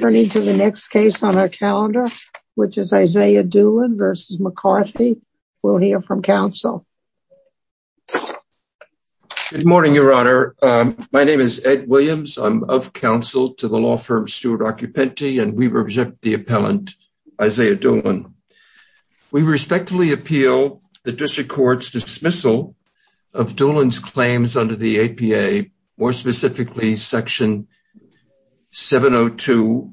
Turning to the next case on our calendar, which is Isaiah Doolen v. McCarthy, we'll hear from counsel. Good morning, Your Honor. My name is Ed Williams. I'm of counsel to the law firm Stuart Occupenti, and we reject the appellant Isaiah Doolen. We respectfully appeal the district court's dismissal of Doolen's claims under the APA, more specifically Section 706-2A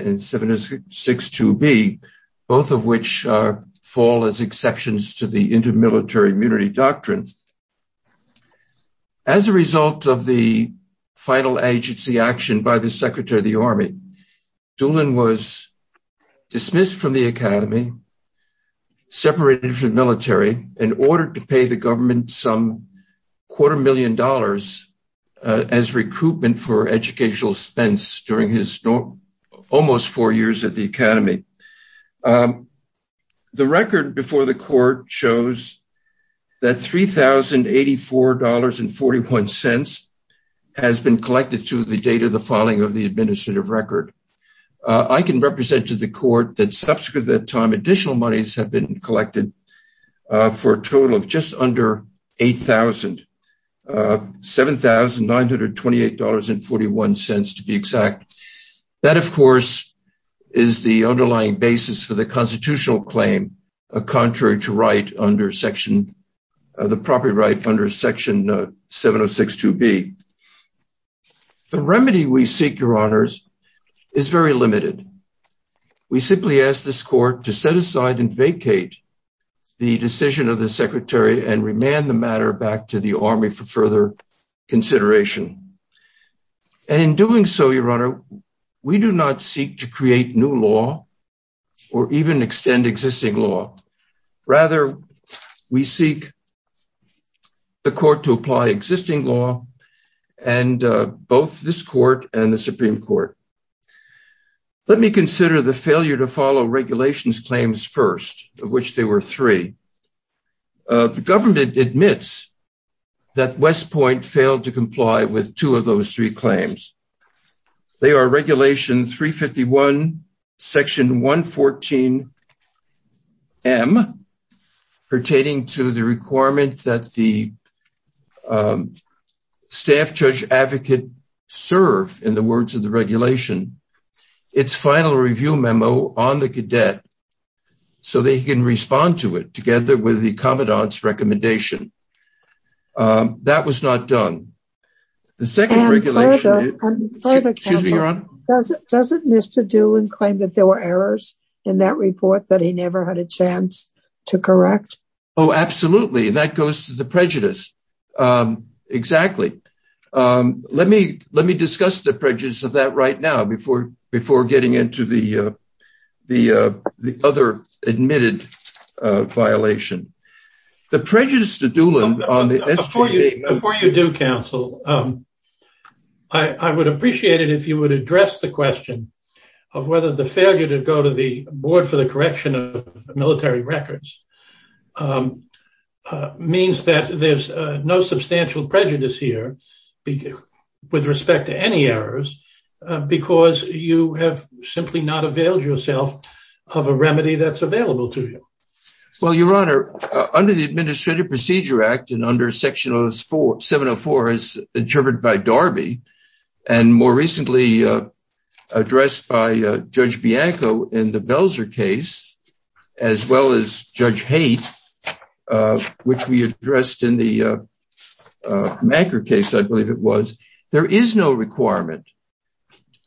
and 706-2B, both of which fall as exceptions to the intermilitary immunity doctrine. As a result of the final agency action by the Secretary of the Army, Doolen was dismissed from the academy, separated from the military, and ordered to pay the government some quarter million dollars as recruitment for educational expense during his almost four years at the academy. The record before the court shows that $3,084.41 has been collected to the date of the filing of the administrative record. I can represent to the court that subsequent to that time, additional monies have been collected for a total of just under $8,000, $7,928.41 to be exact. That, of course, is the underlying basis for the constitutional claim, contrary to right under Section, the property right under Section 706-2B. The remedy we seek, Your Honors, is very limited. We simply ask this court to set aside and vacate the decision of the Secretary and remand the matter back to the Army for further consideration. In doing so, Your Honor, we do not seek to create new law or even extend existing law. Rather, we seek the court to apply existing law, and both this court and the Supreme Court. Let me consider the failure to follow regulations claims first, of which there were three. The government admits that West Point failed to comply with two of those three claims. They are Regulation 351, Section 114M, pertaining to the requirement that the staff judge advocate serve in the words of the regulation, its final review memo on the cadet so they can respond to it together with the commandant's recommendation. That was not done. The second regulation is... And further, Your Honor, doesn't Mr. Doolin claim that there were errors in that report that he never had a chance to correct? Oh, absolutely. And that goes to the prejudice, exactly. Let me discuss the prejudice of that right now before getting into the other admitted violation. The prejudice to Doolin on the SGA... Before you do, counsel, I would appreciate it if you would address the question of whether the failure to go to the board for the correction of military records means that there's no substantial prejudice here with respect to any errors because you have simply not availed yourself of a remedy that's available to you. Well, Your Honor, under the Administrative Procedure Act and under Section 704, as interpreted by Darby, and more recently addressed by Judge Bianco in the Belzer case, as well as Judge Haidt, which we addressed in the Manker case, I believe it was, there is no requirement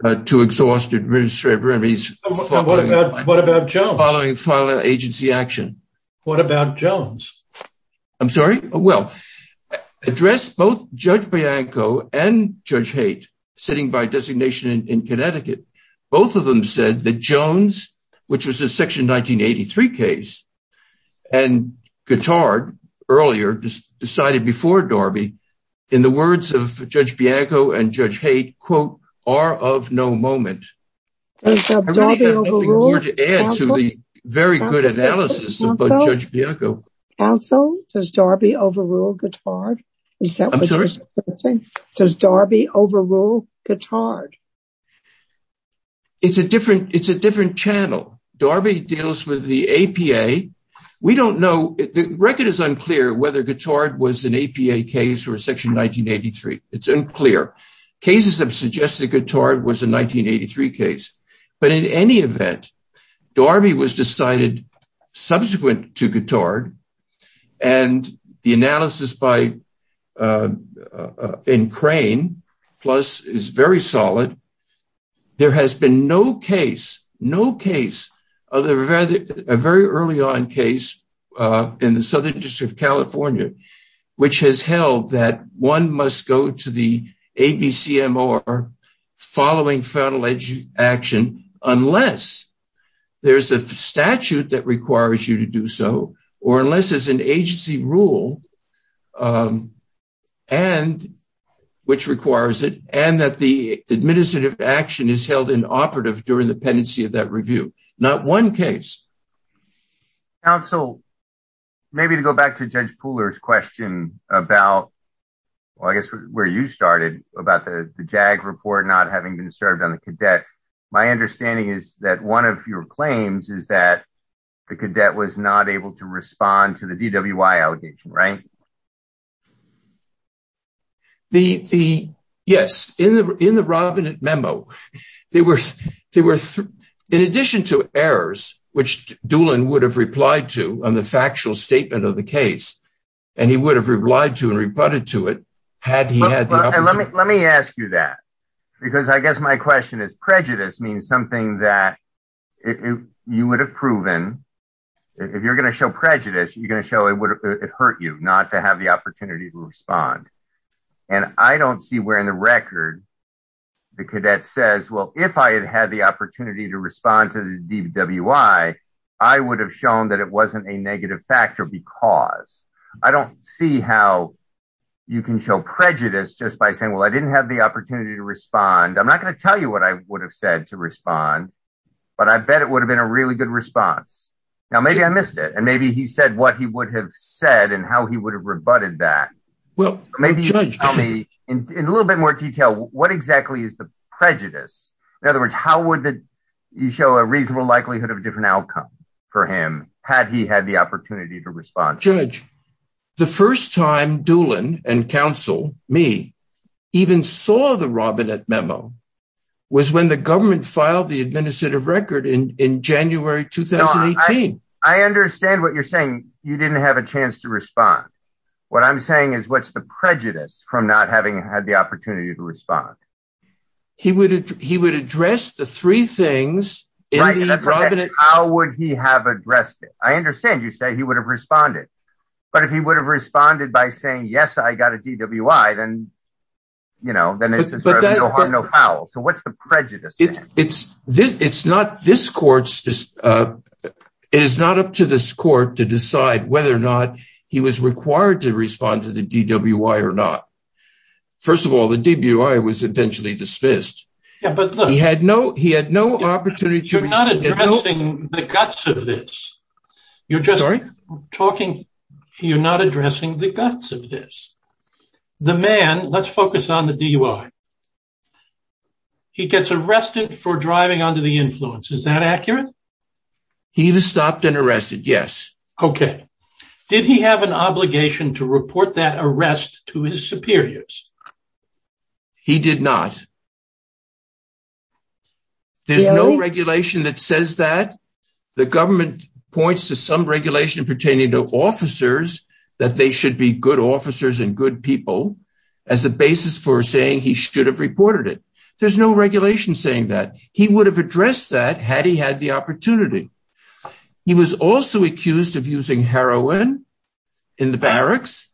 to exhaust administrative remedies... What about Jones? ...following final agency action. What about Jones? I'm sorry? Well, addressed both Judge Bianco and Judge Haidt, sitting by designation in Connecticut, both of them said that Jones, which was a Section 1983 case, and Guitard earlier decided before Darby, in the words of Judge Bianco and Judge Haidt, quote, are of no moment. I really don't have anything more to add to the very good analysis about Judge Bianco. Counsel, does Darby overrule Guitard? I'm sorry? Does Darby overrule Guitard? It's a different channel. Darby deals with the APA. We don't know. The record is unclear whether Guitard was an APA case or a Section 1983. It's unclear. Cases have suggested Guitard was a 1983 case, but in any event, Darby was decided subsequent to Guitard, and the analysis in Crane Plus is very solid. There has been no case, no case, other than a very early on case in the Southern District of California, which has held that one must go to the ABCMOR following federal action unless there's a statute that requires you to do so, or unless there's an agency rule which requires it, and that the administrative action is held inoperative during the pendency of that review. Not one case. Counsel, maybe to go back to Judge Pooler's question about, well, I guess where you started about the JAG report not having been served on the cadet, my understanding is that one of your claims is that the cadet was not able to respond to the DWI allegation, right? Yes, in the Robinette memo, there were, in addition to errors, which Doolin would have replied to on the factual statement of the case, and he would have replied to and rebutted to it had he had the opportunity. Let me ask you that, because I guess my question is, prejudice means something that you would have proven, if you're going to show prejudice, you're going to show it hurt you not to have the opportunity to respond, and I don't see where in the record the cadet says, well, if I had had the opportunity to respond to the DWI, I would have shown that it wasn't a negative factor because. I don't see how you can show prejudice just by saying, well, I didn't have the opportunity to respond. I'm not going to tell you what I would have said to respond, but I bet it would have been a really good response. Now, maybe I missed it, and maybe he said what he would have said and how he would have rebutted that. Maybe you can tell me in a little bit more detail, what exactly is the prejudice? In other words, how would you show a reasonable likelihood of a different outcome for him had he had the opportunity to respond? Judge, the first time Doolin and counsel, me, even saw the Robinette memo was when the No, I understand what you're saying. You didn't have a chance to respond. What I'm saying is what's the prejudice from not having had the opportunity to respond? He would address the three things in the Robinette memo. Right. How would he have addressed it? I understand you say he would have responded, but if he would have responded by saying, yes, I got a DWI, then it's a no harm, no foul. So what's the prejudice? It's not this court's, it is not up to this court to decide whether or not he was required to respond to the DWI or not. First of all, the DWI was eventually dismissed, but he had no, he had no opportunity to. You're not addressing the guts of this. You're just talking, you're not addressing the guts of this. The man, let's focus on the DUI. He gets arrested for driving under the influence. Is that accurate? He was stopped and arrested. Yes. Okay. Did he have an obligation to report that arrest to his superiors? He did not. There's no regulation that says that. The government points to some regulation pertaining to officers that they should be good officers and good people as the basis for saying he should have reported it. There's no regulation saying that. He would have addressed that had he had the opportunity. He was also accused of using heroin in the barracks.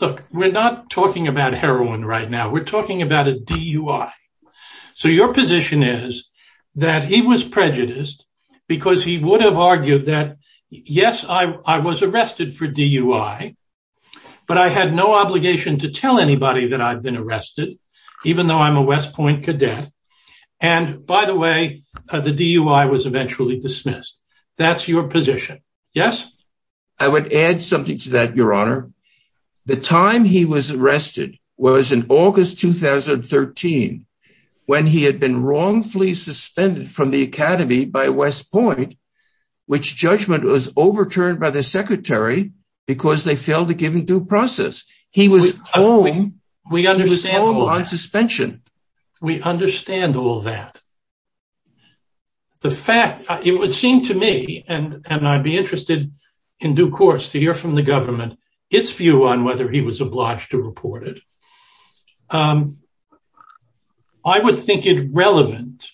Look, we're not talking about heroin right now. We're talking about a DUI. So your position is that he was prejudiced because he would have argued that, yes, I obligation to tell anybody that I've been arrested, even though I'm a West Point cadet. And by the way, the DUI was eventually dismissed. That's your position. Yes. I would add something to that, Your Honor. The time he was arrested was in August 2013, when he had been wrongfully suspended from the academy by West Point, which judgment was overturned by the secretary because they failed to give him due process. He was home on suspension. We understand all that. The fact, it would seem to me and I'd be interested in due course to hear from the government its view on whether he was obliged to report it. I would think it relevant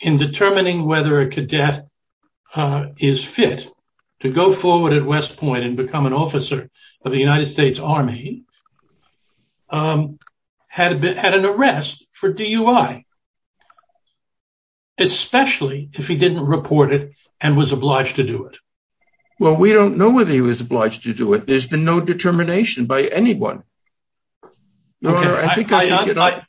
in determining whether a cadet is fit to go forward at West Point and become an officer of the United States Army, had an arrest for DUI, especially if he didn't report it and was obliged to do it. Well, we don't know whether he was obliged to do it. There's been no determination by anyone. I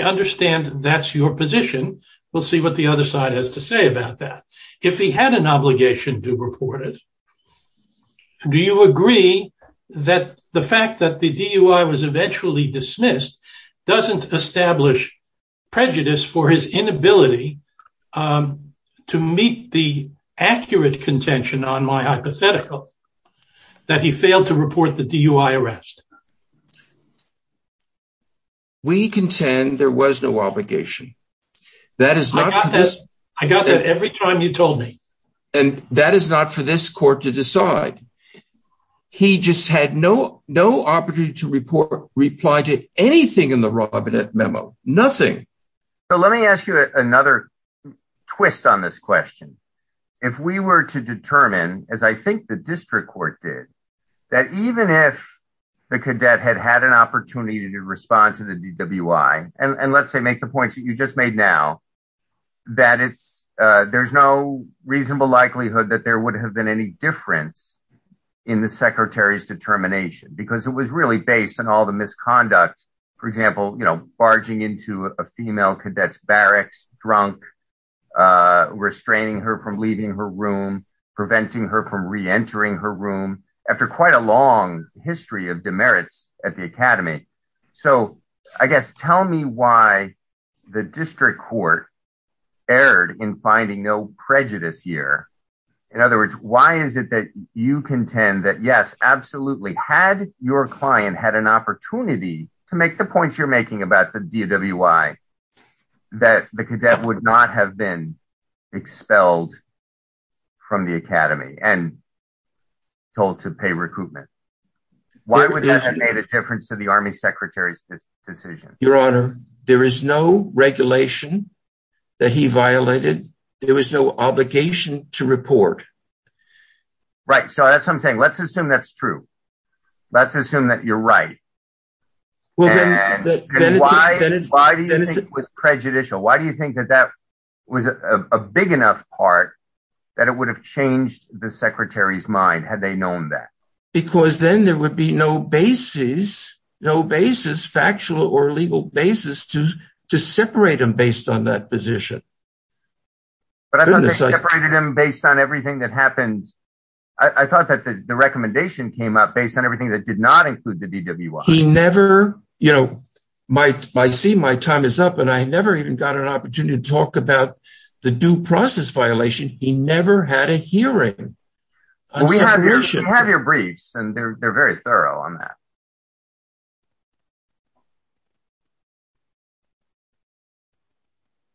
understand that's your position. We'll see what the other side has to say about that. If he had an obligation to report it, do you agree that the fact that the DUI was eventually dismissed doesn't establish prejudice for his inability to meet the accurate contention on my hypothetical that he failed to report the DUI arrest? We contend there was no obligation. I got that every time you told me. And that is not for this court to decide. He just had no opportunity to report, reply to anything in the Robinette memo. Nothing. So let me ask you another twist on this question. If we were to determine, as I think the district court did, that even if the cadet had had an opportunity to respond to the DUI, and let's say make the points that you just made now, that there's no reasonable likelihood that there would have been any difference in the secretary's determination, because it was really based on all the misconduct. For example, barging into a female cadet's barracks drunk, restraining her from leaving her room, preventing her from reentering her room, after quite a long history of demerits at the academy. So I guess, tell me why the district court erred in finding no prejudice here. In other words, why is it that you contend that, yes, absolutely, had your client had an opportunity to make the points you're making about the DUI, that the cadet would not have been expelled from the academy and told to pay recruitment? Why would that have made a difference to the army secretary's decision? Your Honor, there is no regulation that he violated. There was no obligation to report. Right. So that's what I'm saying. Let's assume that's true. Let's assume that you're right. And why do you think it was prejudicial? Why do you think that that was a big enough part that it would have changed the secretary's mind had they known that? Because then there would be no basis, no basis, factual or legal basis to separate him based on that position. But I separated him based on everything that happened. I thought that the recommendation came up based on everything that did not include the DWI. He never, you know, I see my time is up and I never even got an opportunity to talk about the due process violation. He never had a hearing. We have your briefs and they're very thorough on that.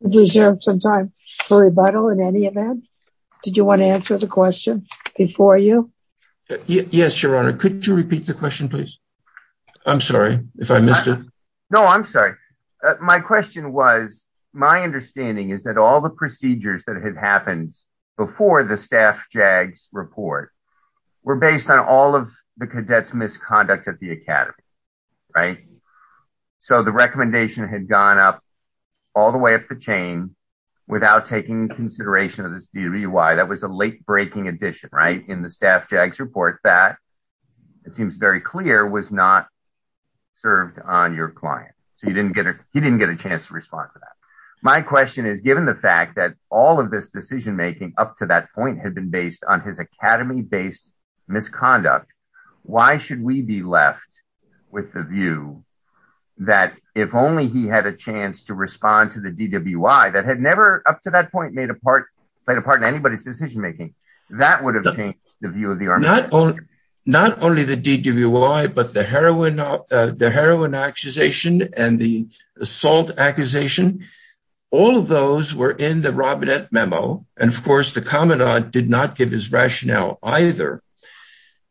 Do you have some time for rebuttal in any event? Did you want to answer the question before you? Yes, Your Honor. Could you repeat the question, please? I'm sorry if I missed it. No, I'm sorry. My question was, my understanding is that all the procedures that had happened before the staff JAGS report were based on all of the cadets misconduct at the academy, right? So the recommendation had gone up all the way up the chain without taking consideration of this DWI. That was a late breaking addition, right? In the staff JAGS report that it seems very clear was not served on your client. So you didn't get it. He didn't get a chance to respond to that. My question is given the fact that all of this decision making up to that point had been based on his academy based misconduct. Why should we be left with the view that if only he had a chance to respond to the DWI that had never up to that point made a part, played a part in anybody's decision making that would have changed the view of the Army. Not only the DWI, but the heroin accusation and the assault accusation. All of those were in the Robinette memo. And of course, the commandant did not give his rationale either.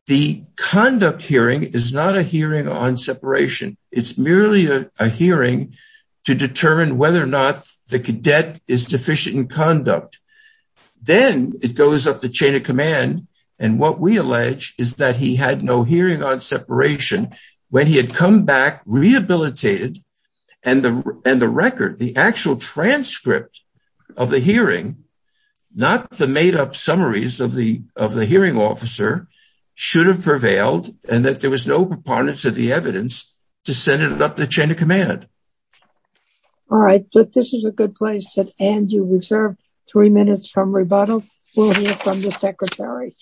The conduct hearing is not a hearing on separation. It's merely a hearing to determine whether or not the cadet is deficient in conduct. Then it goes up the chain of command. And what we allege is that he had no hearing on separation when he had come back rehabilitated and the record, the actual transcript of the hearing, not the made up summaries of the hearing officer should have prevailed and that there was no proponents of the evidence to send it up the chain of command. All right. But this is a good place to end. You reserve three minutes from rebuttal. We'll hear from the secretary.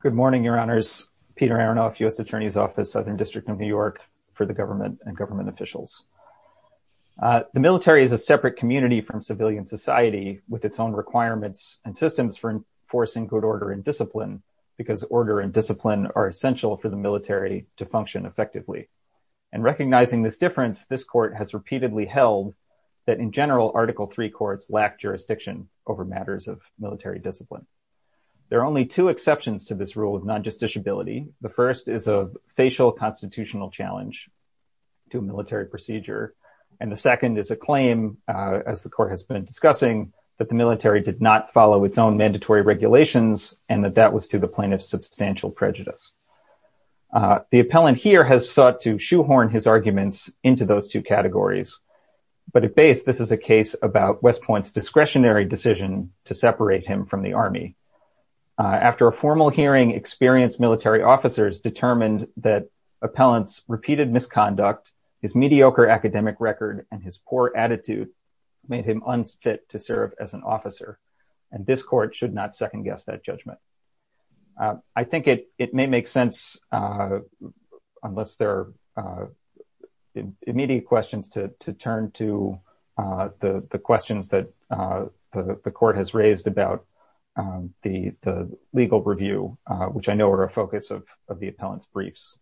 Good morning, Your Honors. Peter Aronoff, U.S. Attorney's Office, Southern District of New York for the government and government officials. The military is a separate community from civilian society with its own requirements and systems for enforcing good order and discipline because order and discipline are essential for the military to function effectively. And recognizing this difference, this court has repeatedly held that in general, Article III courts lack jurisdiction over matters of military discipline. There are only two exceptions to this rule of non-justiciability. The first is a facial constitutional challenge to military procedure. And the second is a claim, as the court has been discussing, that the military did not follow its own mandatory regulations and that that was to the plaintiff's substantial prejudice. The appellant here has sought to shoehorn his arguments into those two categories. But at base, this is a case about West Point's discretionary decision to separate him from the Army. After a formal hearing, experienced military officers determined that appellant's repeated misconduct, his mediocre academic record, and his poor attitude made him unfit to serve as an officer. And this court should not second guess that judgment. I think it may make sense, unless there are immediate questions, to turn to the questions that the court has raised about the legal review, which I know are a focus of the appellant's briefs.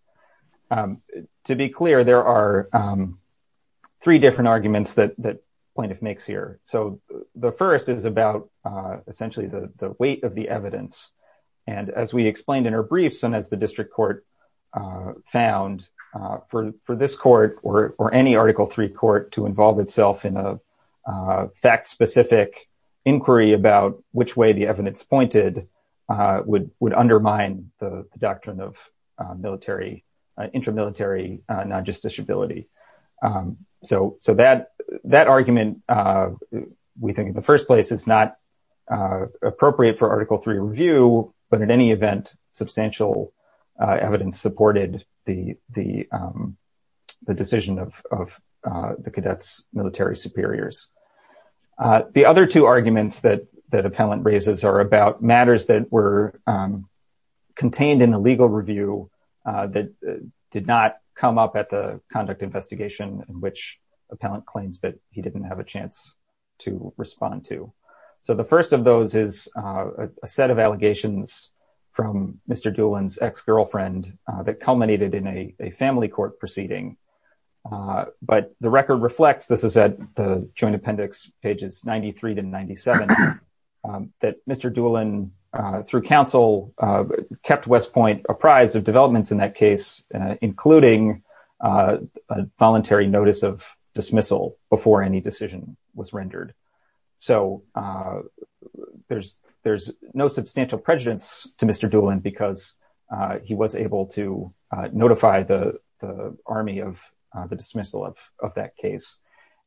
To be clear, there are three different arguments that the plaintiff makes here. So the first is about, essentially, the weight of the evidence. And as we explained in our briefs, and as the district court found, for this court or any Article III court to involve itself in a fact-specific inquiry about which way the evidence pointed would undermine the doctrine of military, intramilitary non-justiciability. So that argument, we think in the first place, is not appropriate for Article III review, but in any event, substantial evidence supported the decision of the cadet's military superiors. The other two arguments that appellant raises are about matters that were contained in the conduct investigation in which appellant claims that he didn't have a chance to respond to. So the first of those is a set of allegations from Mr. Doolin's ex-girlfriend that culminated in a family court proceeding. But the record reflects, this is at the Joint Appendix, pages 93 to 97, that Mr. Doolin, through counsel, kept West Point apprised of developments in that case, including a voluntary notice of dismissal before any decision was rendered. So there's no substantial prejudice to Mr. Doolin because he was able to notify the army of the dismissal of that case.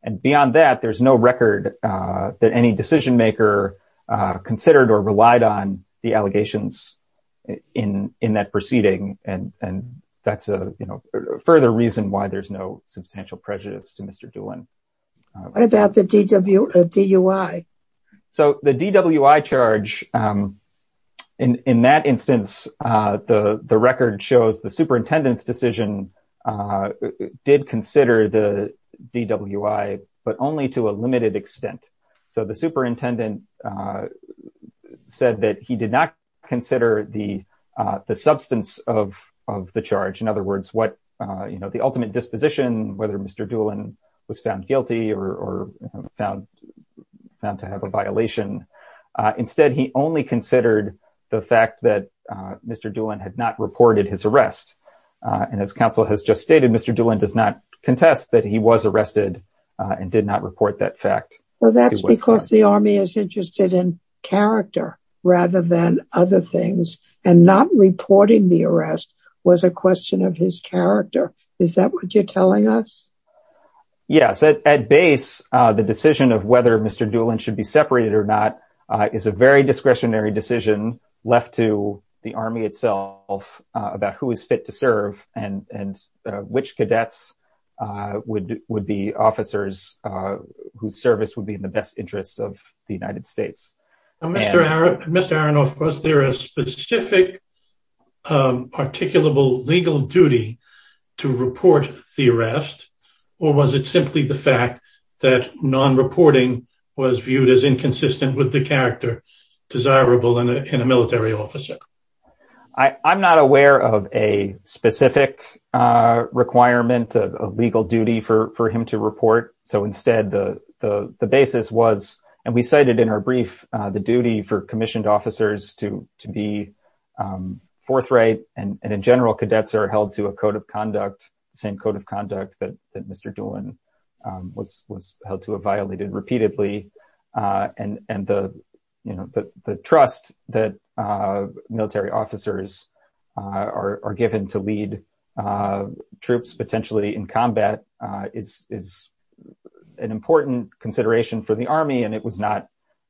And beyond that, there's no record that any decision maker considered or relied on the no substantial prejudice to Mr. Doolin. What about the DWI? So the DWI charge, in that instance, the record shows the superintendent's decision did consider the DWI, but only to a limited extent. So the superintendent said that he did not consider the substance of the charge. In other words, what, you know, the ultimate disposition, whether Mr. Doolin was found guilty or found to have a violation. Instead, he only considered the fact that Mr. Doolin had not reported his arrest. And as counsel has just stated, Mr. Doolin does not contest that he was arrested and did not report that fact. Well, that's because the army is interested in character rather than other things. And not reporting the arrest was a question of his character. Is that what you're telling us? Yes. At base, the decision of whether Mr. Doolin should be separated or not is a very discretionary decision left to the army itself about who is fit to serve and which cadets would be officers whose service would be in the best interests of the United States. Mr. Aronoff, was there a specific articulable legal duty to report the arrest, or was it simply the fact that non-reporting was viewed as inconsistent with the character desirable in a military officer? I'm not aware of a specific requirement of legal duty for him to report. So instead, the basis was, and we cited in our brief, the duty for commissioned officers to be forthright. And in general, cadets are held to a code of conduct, the same code of conduct that Mr. Doolin was held to have violated repeatedly. And the trust that military officers are given to lead troops potentially in combat is an important consideration for the army. And it was not,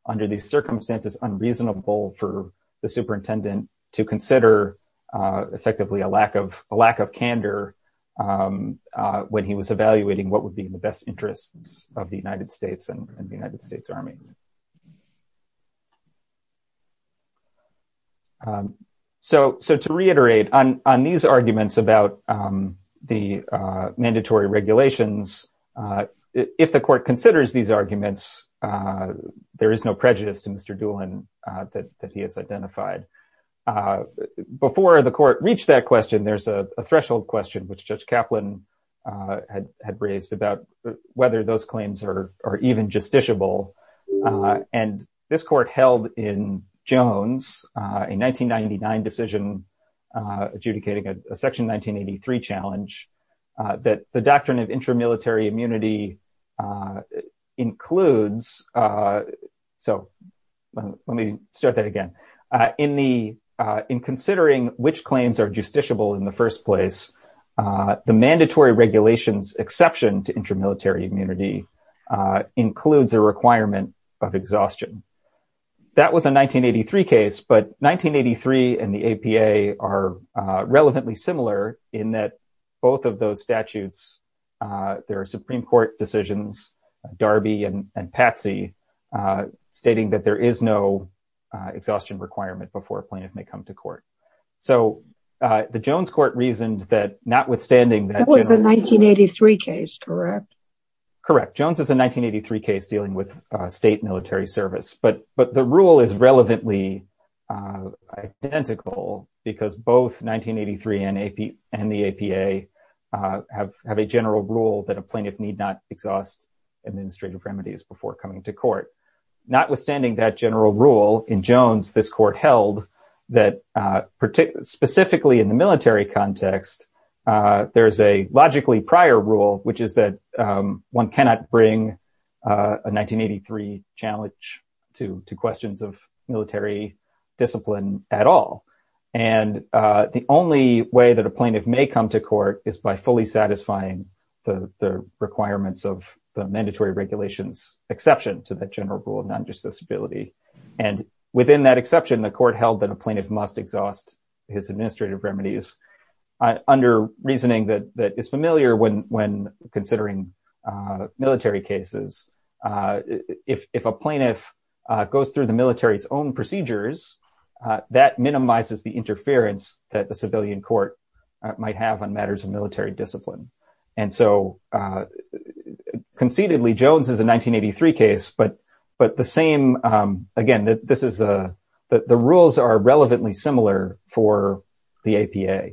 under these circumstances, unreasonable for the superintendent to consider effectively a lack of candor when he was evaluating what would be in the best interests of the United States and the United States Army. So to reiterate, on these arguments about the mandatory regulations, if the court considers these arguments, there is no prejudice to Mr. Doolin that he has identified. Before the court reached that question, there's a threshold question, which Judge Kaplan had raised, about whether those claims are even justiciable. And this court held in Jones, a 1999 decision adjudicating a Section 1983 challenge, that the doctrine of intramilitary immunity includes. So let me start that again. In considering which claims are justiciable in the first place, the mandatory regulations exception to intramilitary immunity includes a requirement of exhaustion. That was a 1983 case, but 1983 and the APA are relevantly similar in that both of those statutes, there are Supreme Court decisions, Darby and Patsy, stating that there is no exhaustion requirement before a plaintiff may come to court. So the Jones court reasoned that notwithstanding... That was a 1983 case, correct? Correct. Jones is a 1983 case dealing with state military service. But the rule is relevantly identical because both 1983 and the APA have a general rule that a plaintiff need not exhaust administrative remedies before coming to court. Notwithstanding that general rule in Jones, this court held that, specifically in the military context, there is a logically prior rule, which is that one cannot bring a 1983 challenge to questions of military discipline at all. And the only way that a plaintiff may come to court is by fully satisfying the requirements of the mandatory regulations exception to the general rule of non-justice ability. And within that exception, the court held that a plaintiff must exhaust his administrative remedies under reasoning that is familiar when considering military cases. If a plaintiff goes through the military's own procedures, that minimizes the interference that the civilian court might have on matters of military discipline. And so, concededly, Jones is a 1983 case, but the same... Again, the rules are relevantly similar for the APA.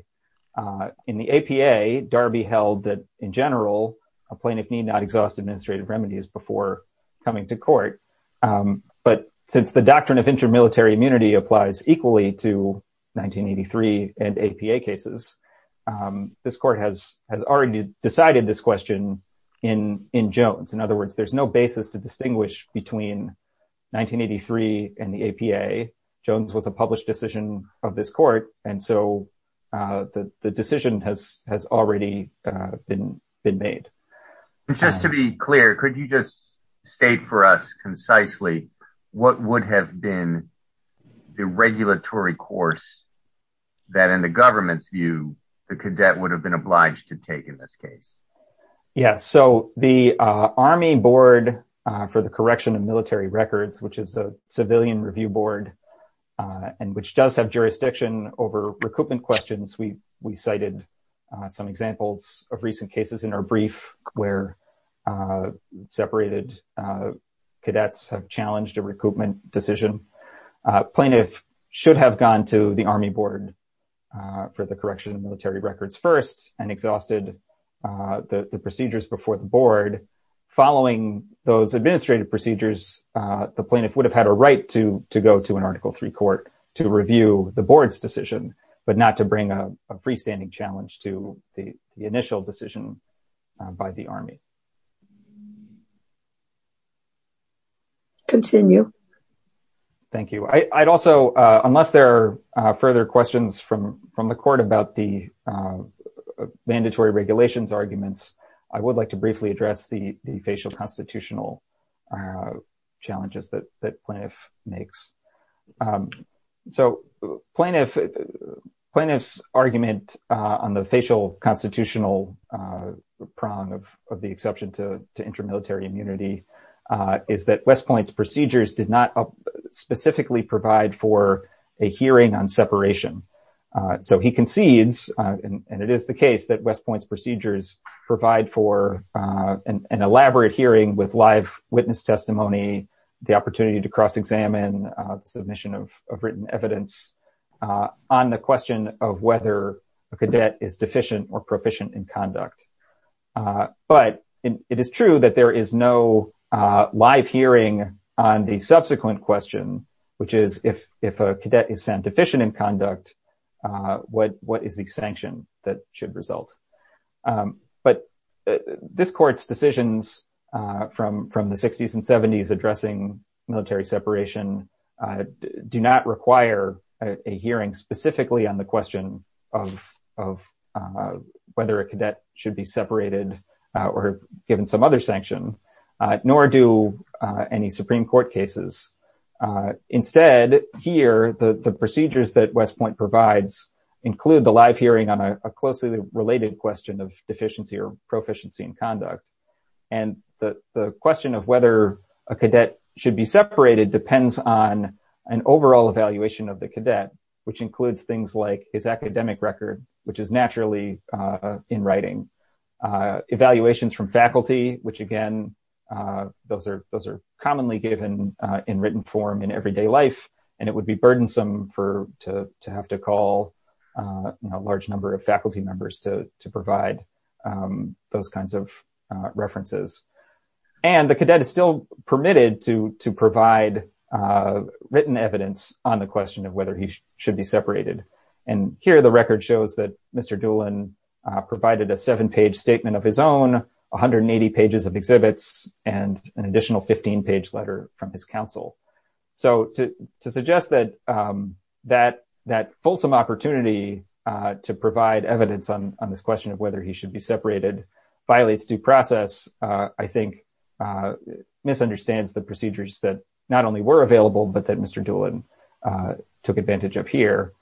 In the APA, Darby held that, in general, a plaintiff need not exhaust administrative remedies before coming to court. But since the doctrine of inter-military immunity applies equally to 1983 and APA cases, this court has already decided this question in Jones. In other words, there's no basis to distinguish between 1983 and the APA. Jones was a published decision of this court. And so, the decision has already been made. Just to be clear, could you just state for us, concisely, what would have been the regulatory course that, in the government's view, the cadet would have been obliged to take in this case? Yeah, so the Army Board for the Correction of Military Records, which is a civilian review board and which does have jurisdiction over recoupment questions, we cited some examples of recent cases in our brief where separated cadets have challenged a recoupment decision. Plaintiff should have gone to the Army Board for the Correction of Military Records first and exhausted the procedures before the board. Following those administrative procedures, the plaintiff would have had a right to go to an Article III court to review the board's decision, but not to bring a freestanding challenge to the initial decision by the Army. Continue. Thank you. I'd also, unless there are further questions from the court about the mandatory regulations arguments, I would like to briefly address the facial constitutional challenges that plaintiff makes. So, plaintiff's argument on the facial constitutional prong of these cases is that to intermilitary immunity is that West Point's procedures did not specifically provide for a hearing on separation. So he concedes, and it is the case that West Point's procedures provide for an elaborate hearing with live witness testimony, the opportunity to cross-examine, submission of written evidence on the question of whether a cadet is deficient or proficient in conduct. But it is true that there is no live hearing on the subsequent question, which is, if a cadet is found deficient in conduct, what is the sanction that should result? But this court's decisions from the 60s and 70s addressing military separation do not separate a cadet from the rest of the military, nor do any Supreme Court cases. Instead, here, the procedures that West Point provides include the live hearing on a closely related question of deficiency or proficiency in conduct. And the question of whether a cadet should be separated depends on an overall evaluation of the cadet, which includes things like his academic record, which is naturally in writing. Evaluations from faculty, which again, those are commonly given in written form in everyday life, and it would be burdensome to have to call a large number of faculty members to provide those kinds of references. And the cadet is still permitted to provide written evidence on the question of whether he should be separated. And here, the record shows that Mr. Doolin provided a seven-page statement of his own, 180 pages of exhibits, and an additional 15-page letter from his counsel. So to suggest that that fulsome opportunity to provide evidence on this question of whether he should be separated violates due process, I think, misunderstands the procedures that not only were available, but that Mr. Doolin was able to take advantage of here.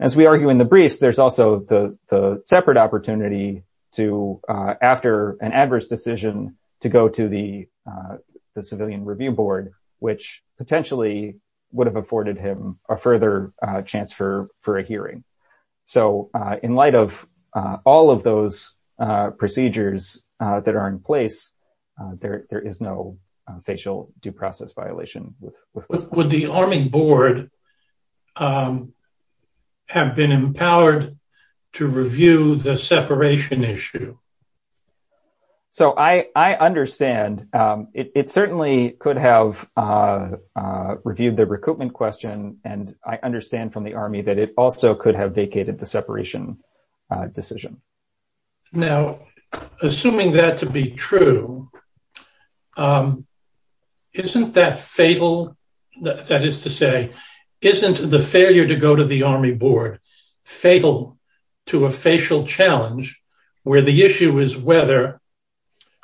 As we argue in the briefs, there's also the separate opportunity to, after an adverse decision, to go to the Civilian Review Board, which potentially would have afforded him a further chance for a hearing. So in light of all of those procedures that are in place, there is no facial due process violation with this. Would the Army Board have been empowered to review the separation issue? So I understand. It certainly could have reviewed the recoupment question, and I understand from the Army that it also could have vacated the separation decision. Now, assuming that to be true, isn't that fatal? That is to say, isn't the failure to go to the Army Board fatal to a facial challenge where the issue is whether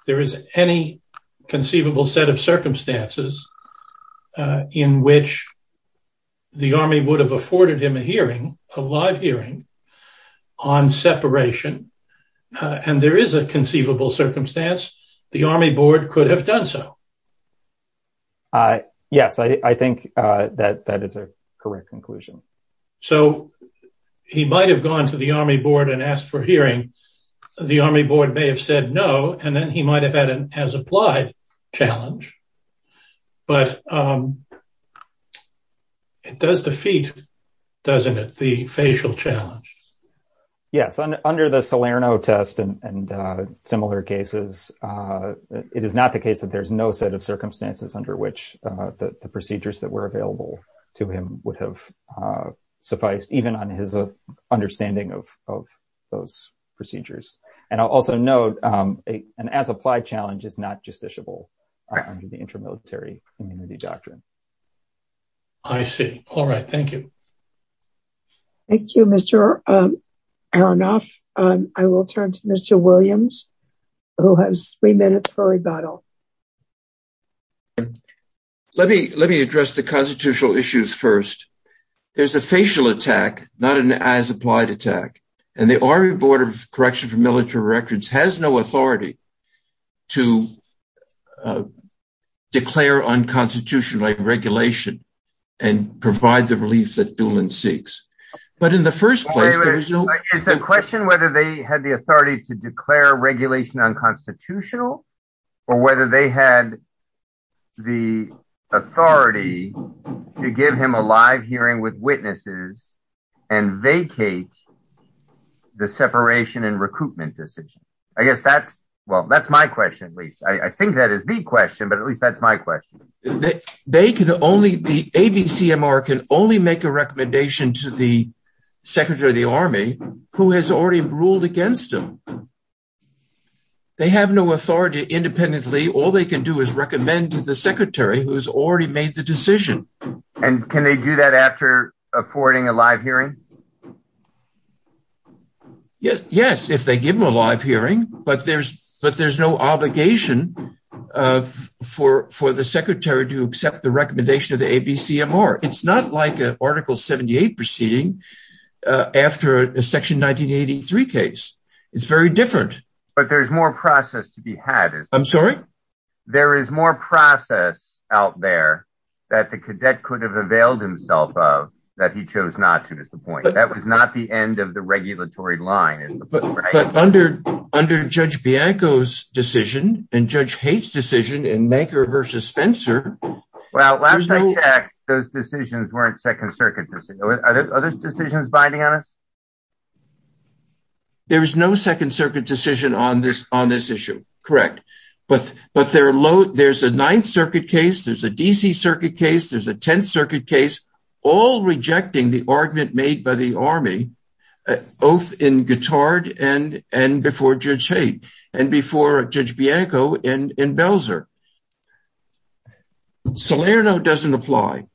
there is any conceivable set of circumstances in which the Army would have afforded him a hearing, a live hearing, on separation, and there is a conceivable circumstance? The Army Board could have done so. Yes, I think that that is a correct conclusion. So he might have gone to the Army Board and asked for hearing. The Army Board may have said no, and then he might have had an as-applied challenge. But it does defeat, doesn't it, the facial challenge? Yes. Under the Salerno test and similar cases, it is not the case that there is no set of circumstances under which the procedures that were available to him would have sufficed, even on his understanding of those procedures. And I'll also note, an as-applied challenge is not justiciable under the Inter-Military Community Doctrine. I see. All right. Thank you. Thank you, Mr. Aronoff. I will turn to Mr. Williams, who has three minutes for rebuttal. Let me address the constitutional issues first. There's a facial attack, not an as-applied attack. And the Army Board of Corrections for Military Records has no authority to declare unconstitutional regulation and provide the relief that Doolin seeks. But in the first place, there was no— Is the question whether they had the authority to declare regulation unconstitutional, or whether they had the authority to give him a live hearing with witnesses and vacate the separation and recruitment decision? I guess that's—well, that's my question, at least. I think that is the question, but at least that's my question. They can only—the ABCMR can only make a recommendation to the Secretary of the Army, who has already ruled against him. They have no authority independently. All they can do is recommend to the Secretary, who has already made the decision. And can they do that after affording a live hearing? Yes, if they give him a live hearing. But there's no obligation for the Secretary to accept the recommendation of the ABCMR. It's not like an Article 78 proceeding after a Section 1983 case. It's very different. But there's more process to be had. I'm sorry? There is more process out there that the cadet could have availed himself of that he chose not to, is the point. That was not the end of the regulatory line, is the point, right? But under Judge Bianco's decision, and Judge Haight's decision, and Manker versus Spencer— Well, last I checked, those decisions weren't Second Circuit decisions. Are those decisions binding on us? There is no Second Circuit decision on this issue, correct. But there's a Ninth Circuit case, there's a D.C. Circuit case, there's a Tenth Circuit case, all rejecting the argument made by the Army, both in Guitard and before Judge Haight, and before Judge Bianco and in Belzer. Salerno doesn't apply.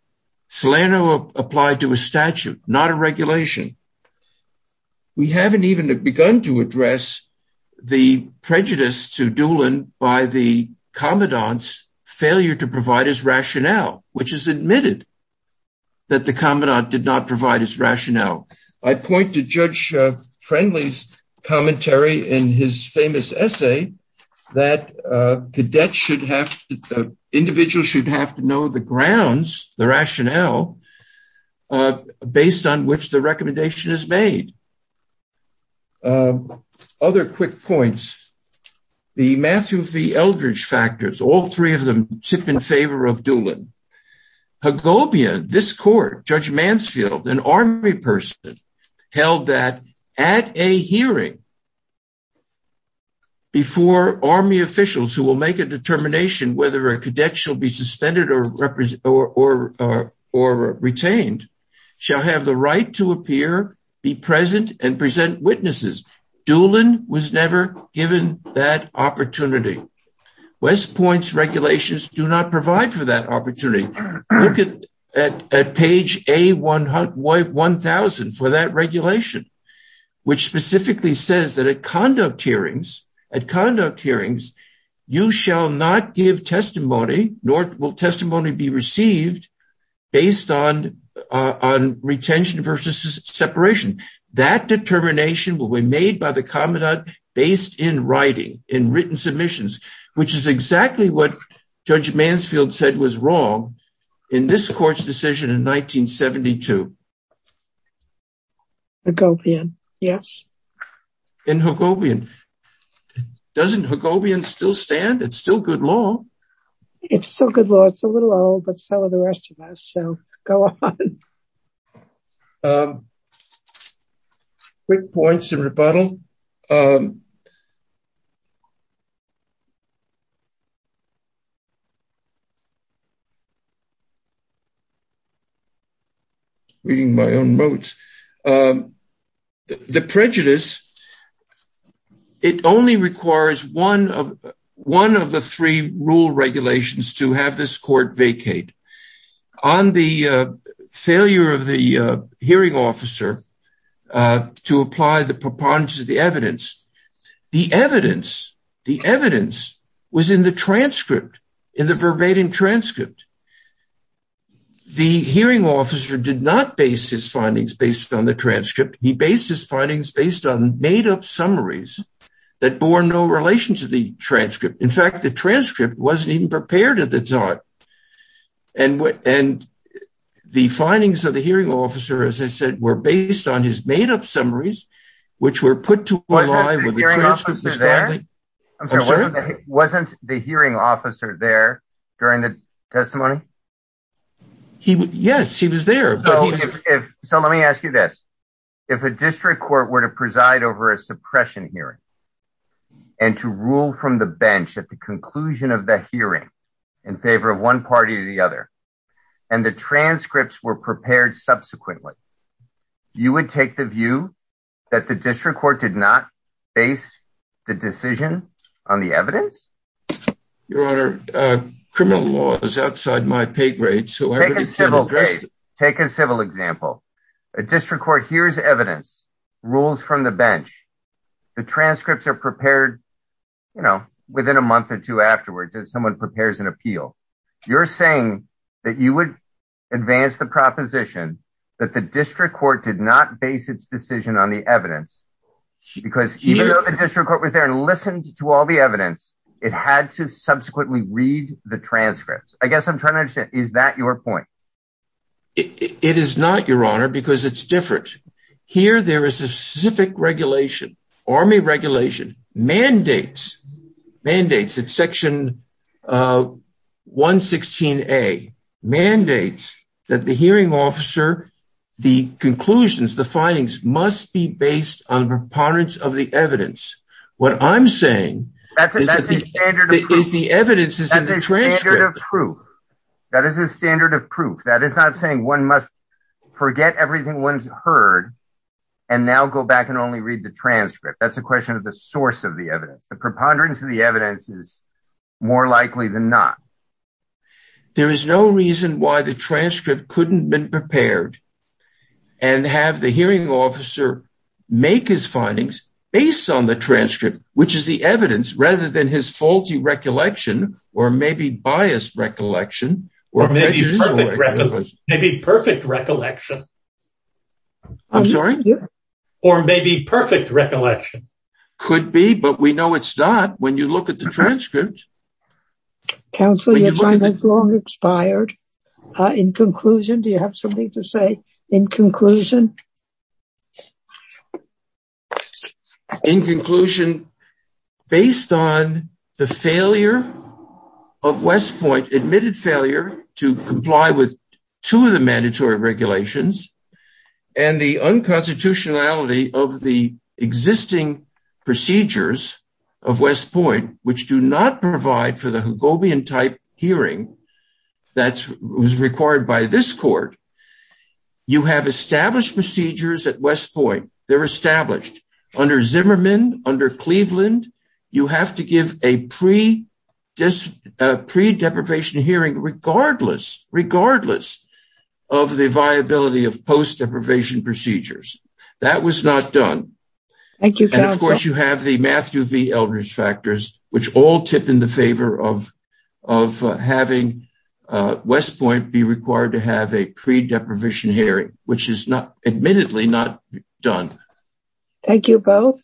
Salerno applied to a statute, not a regulation. We haven't even begun to address the prejudice to Doolin by the Commandant's failure to provide his rationale, which is admitted, that the Commandant did not provide his rationale. I point to Judge Friendly's commentary in his famous essay that cadets should have to, individuals should have to know the grounds, the rationale, based on which the recommendation is made. Other quick points, the Matthew V. Eldridge factors, all three of them sit in favor of Doolin. Hagobia, this court, Judge Mansfield, an Army person, held that at a hearing, before Army officials who will make a determination whether a cadet shall be suspended or retained, shall have the right to appear, be present, and present witnesses. Doolin was never given that opportunity. West Point's regulations do not provide for that opportunity. Look at page A-1000 for that regulation, which specifically says that at conduct hearings, you shall not give testimony, nor will testimony be received, based on retention versus separation. That determination will be made by the Commandant based in writing, in written submissions, which is exactly what Judge Mansfield said was wrong in this court's decision in 1972. Hagobian, yes. In Hagobian, doesn't Hagobian still stand? It's still good law. It's still good law. It's a little old, but so are the rest of us, so go on. Quick points of rebuttal. Reading my own notes. The prejudice, it only requires one of the three rule regulations to have this court vacate. On the failure of the hearing officer to apply the preponderance of the evidence, the evidence was in the transcript, in the verbatim transcript. The hearing officer did not base his findings based on the transcript. He based his findings based on made-up summaries that bore no relation to the transcript. In fact, the transcript wasn't even prepared at the time, and the findings of the hearing officer, as I said, were based on his made-up summaries, which were put to a lie when the transcript was found. Wasn't the hearing officer there during the testimony? He, yes, he was there, but he was- So let me ask you this, if a district court were to preside over a suppression hearing and to rule from the bench at the conclusion of the hearing in favor of one party or the other, and the transcripts were prepared subsequently, you would take the view that the district court did not base the decision on the evidence? Your Honor, criminal law is outside my pay grade, so I- Take a civil case. Take a civil example. A district court hears evidence, rules from the bench, the transcripts are prepared, you know, within a month or two afterwards as someone prepares an appeal. You're saying that you would advance the proposition that the district court did not base its decision on the evidence, because even though the district court was there and it had to subsequently read the transcripts. I guess I'm trying to understand, is that your point? It is not, Your Honor, because it's different. Here there is a specific regulation, army regulation, mandates, mandates, it's section 116A, mandates that the hearing officer, the conclusions, the findings must be based on the preponderance of the evidence. What I'm saying is that the evidence is in the transcript. That's a standard of proof. That is a standard of proof. That is not saying one must forget everything one's heard and now go back and only read the transcript. That's a question of the source of the evidence. The preponderance of the evidence is more likely than not. There is no reason why the transcript couldn't been prepared and have the hearing officer make his findings based on the transcript, which is the evidence rather than his faulty recollection or maybe biased recollection. Maybe perfect recollection. I'm sorry? Or maybe perfect recollection. Could be, but we know it's not when you look at the transcript. Counsel, your time has long expired. In conclusion, do you have something to say in conclusion? In conclusion, based on the failure of West Point, admitted failure to comply with two of the mandatory regulations and the unconstitutionality of the existing procedures of West Point, which do not provide for the hearing that was required by this court, you have established procedures at West Point. They're established. Under Zimmerman, under Cleveland, you have to give a pre-deprivation hearing regardless, regardless of the viability of post-deprivation procedures. That was not done. Thank you, counsel. And of course, you have the Matthew V. Eldridge factors, which all tip in the favor of having West Point be required to have a pre-deprivation hearing, which is not admittedly not done. Thank you both.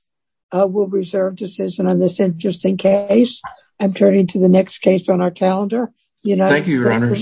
We'll reserve decision on this interesting case. I'm turning to the next case on our calendar. Thank you, your honors.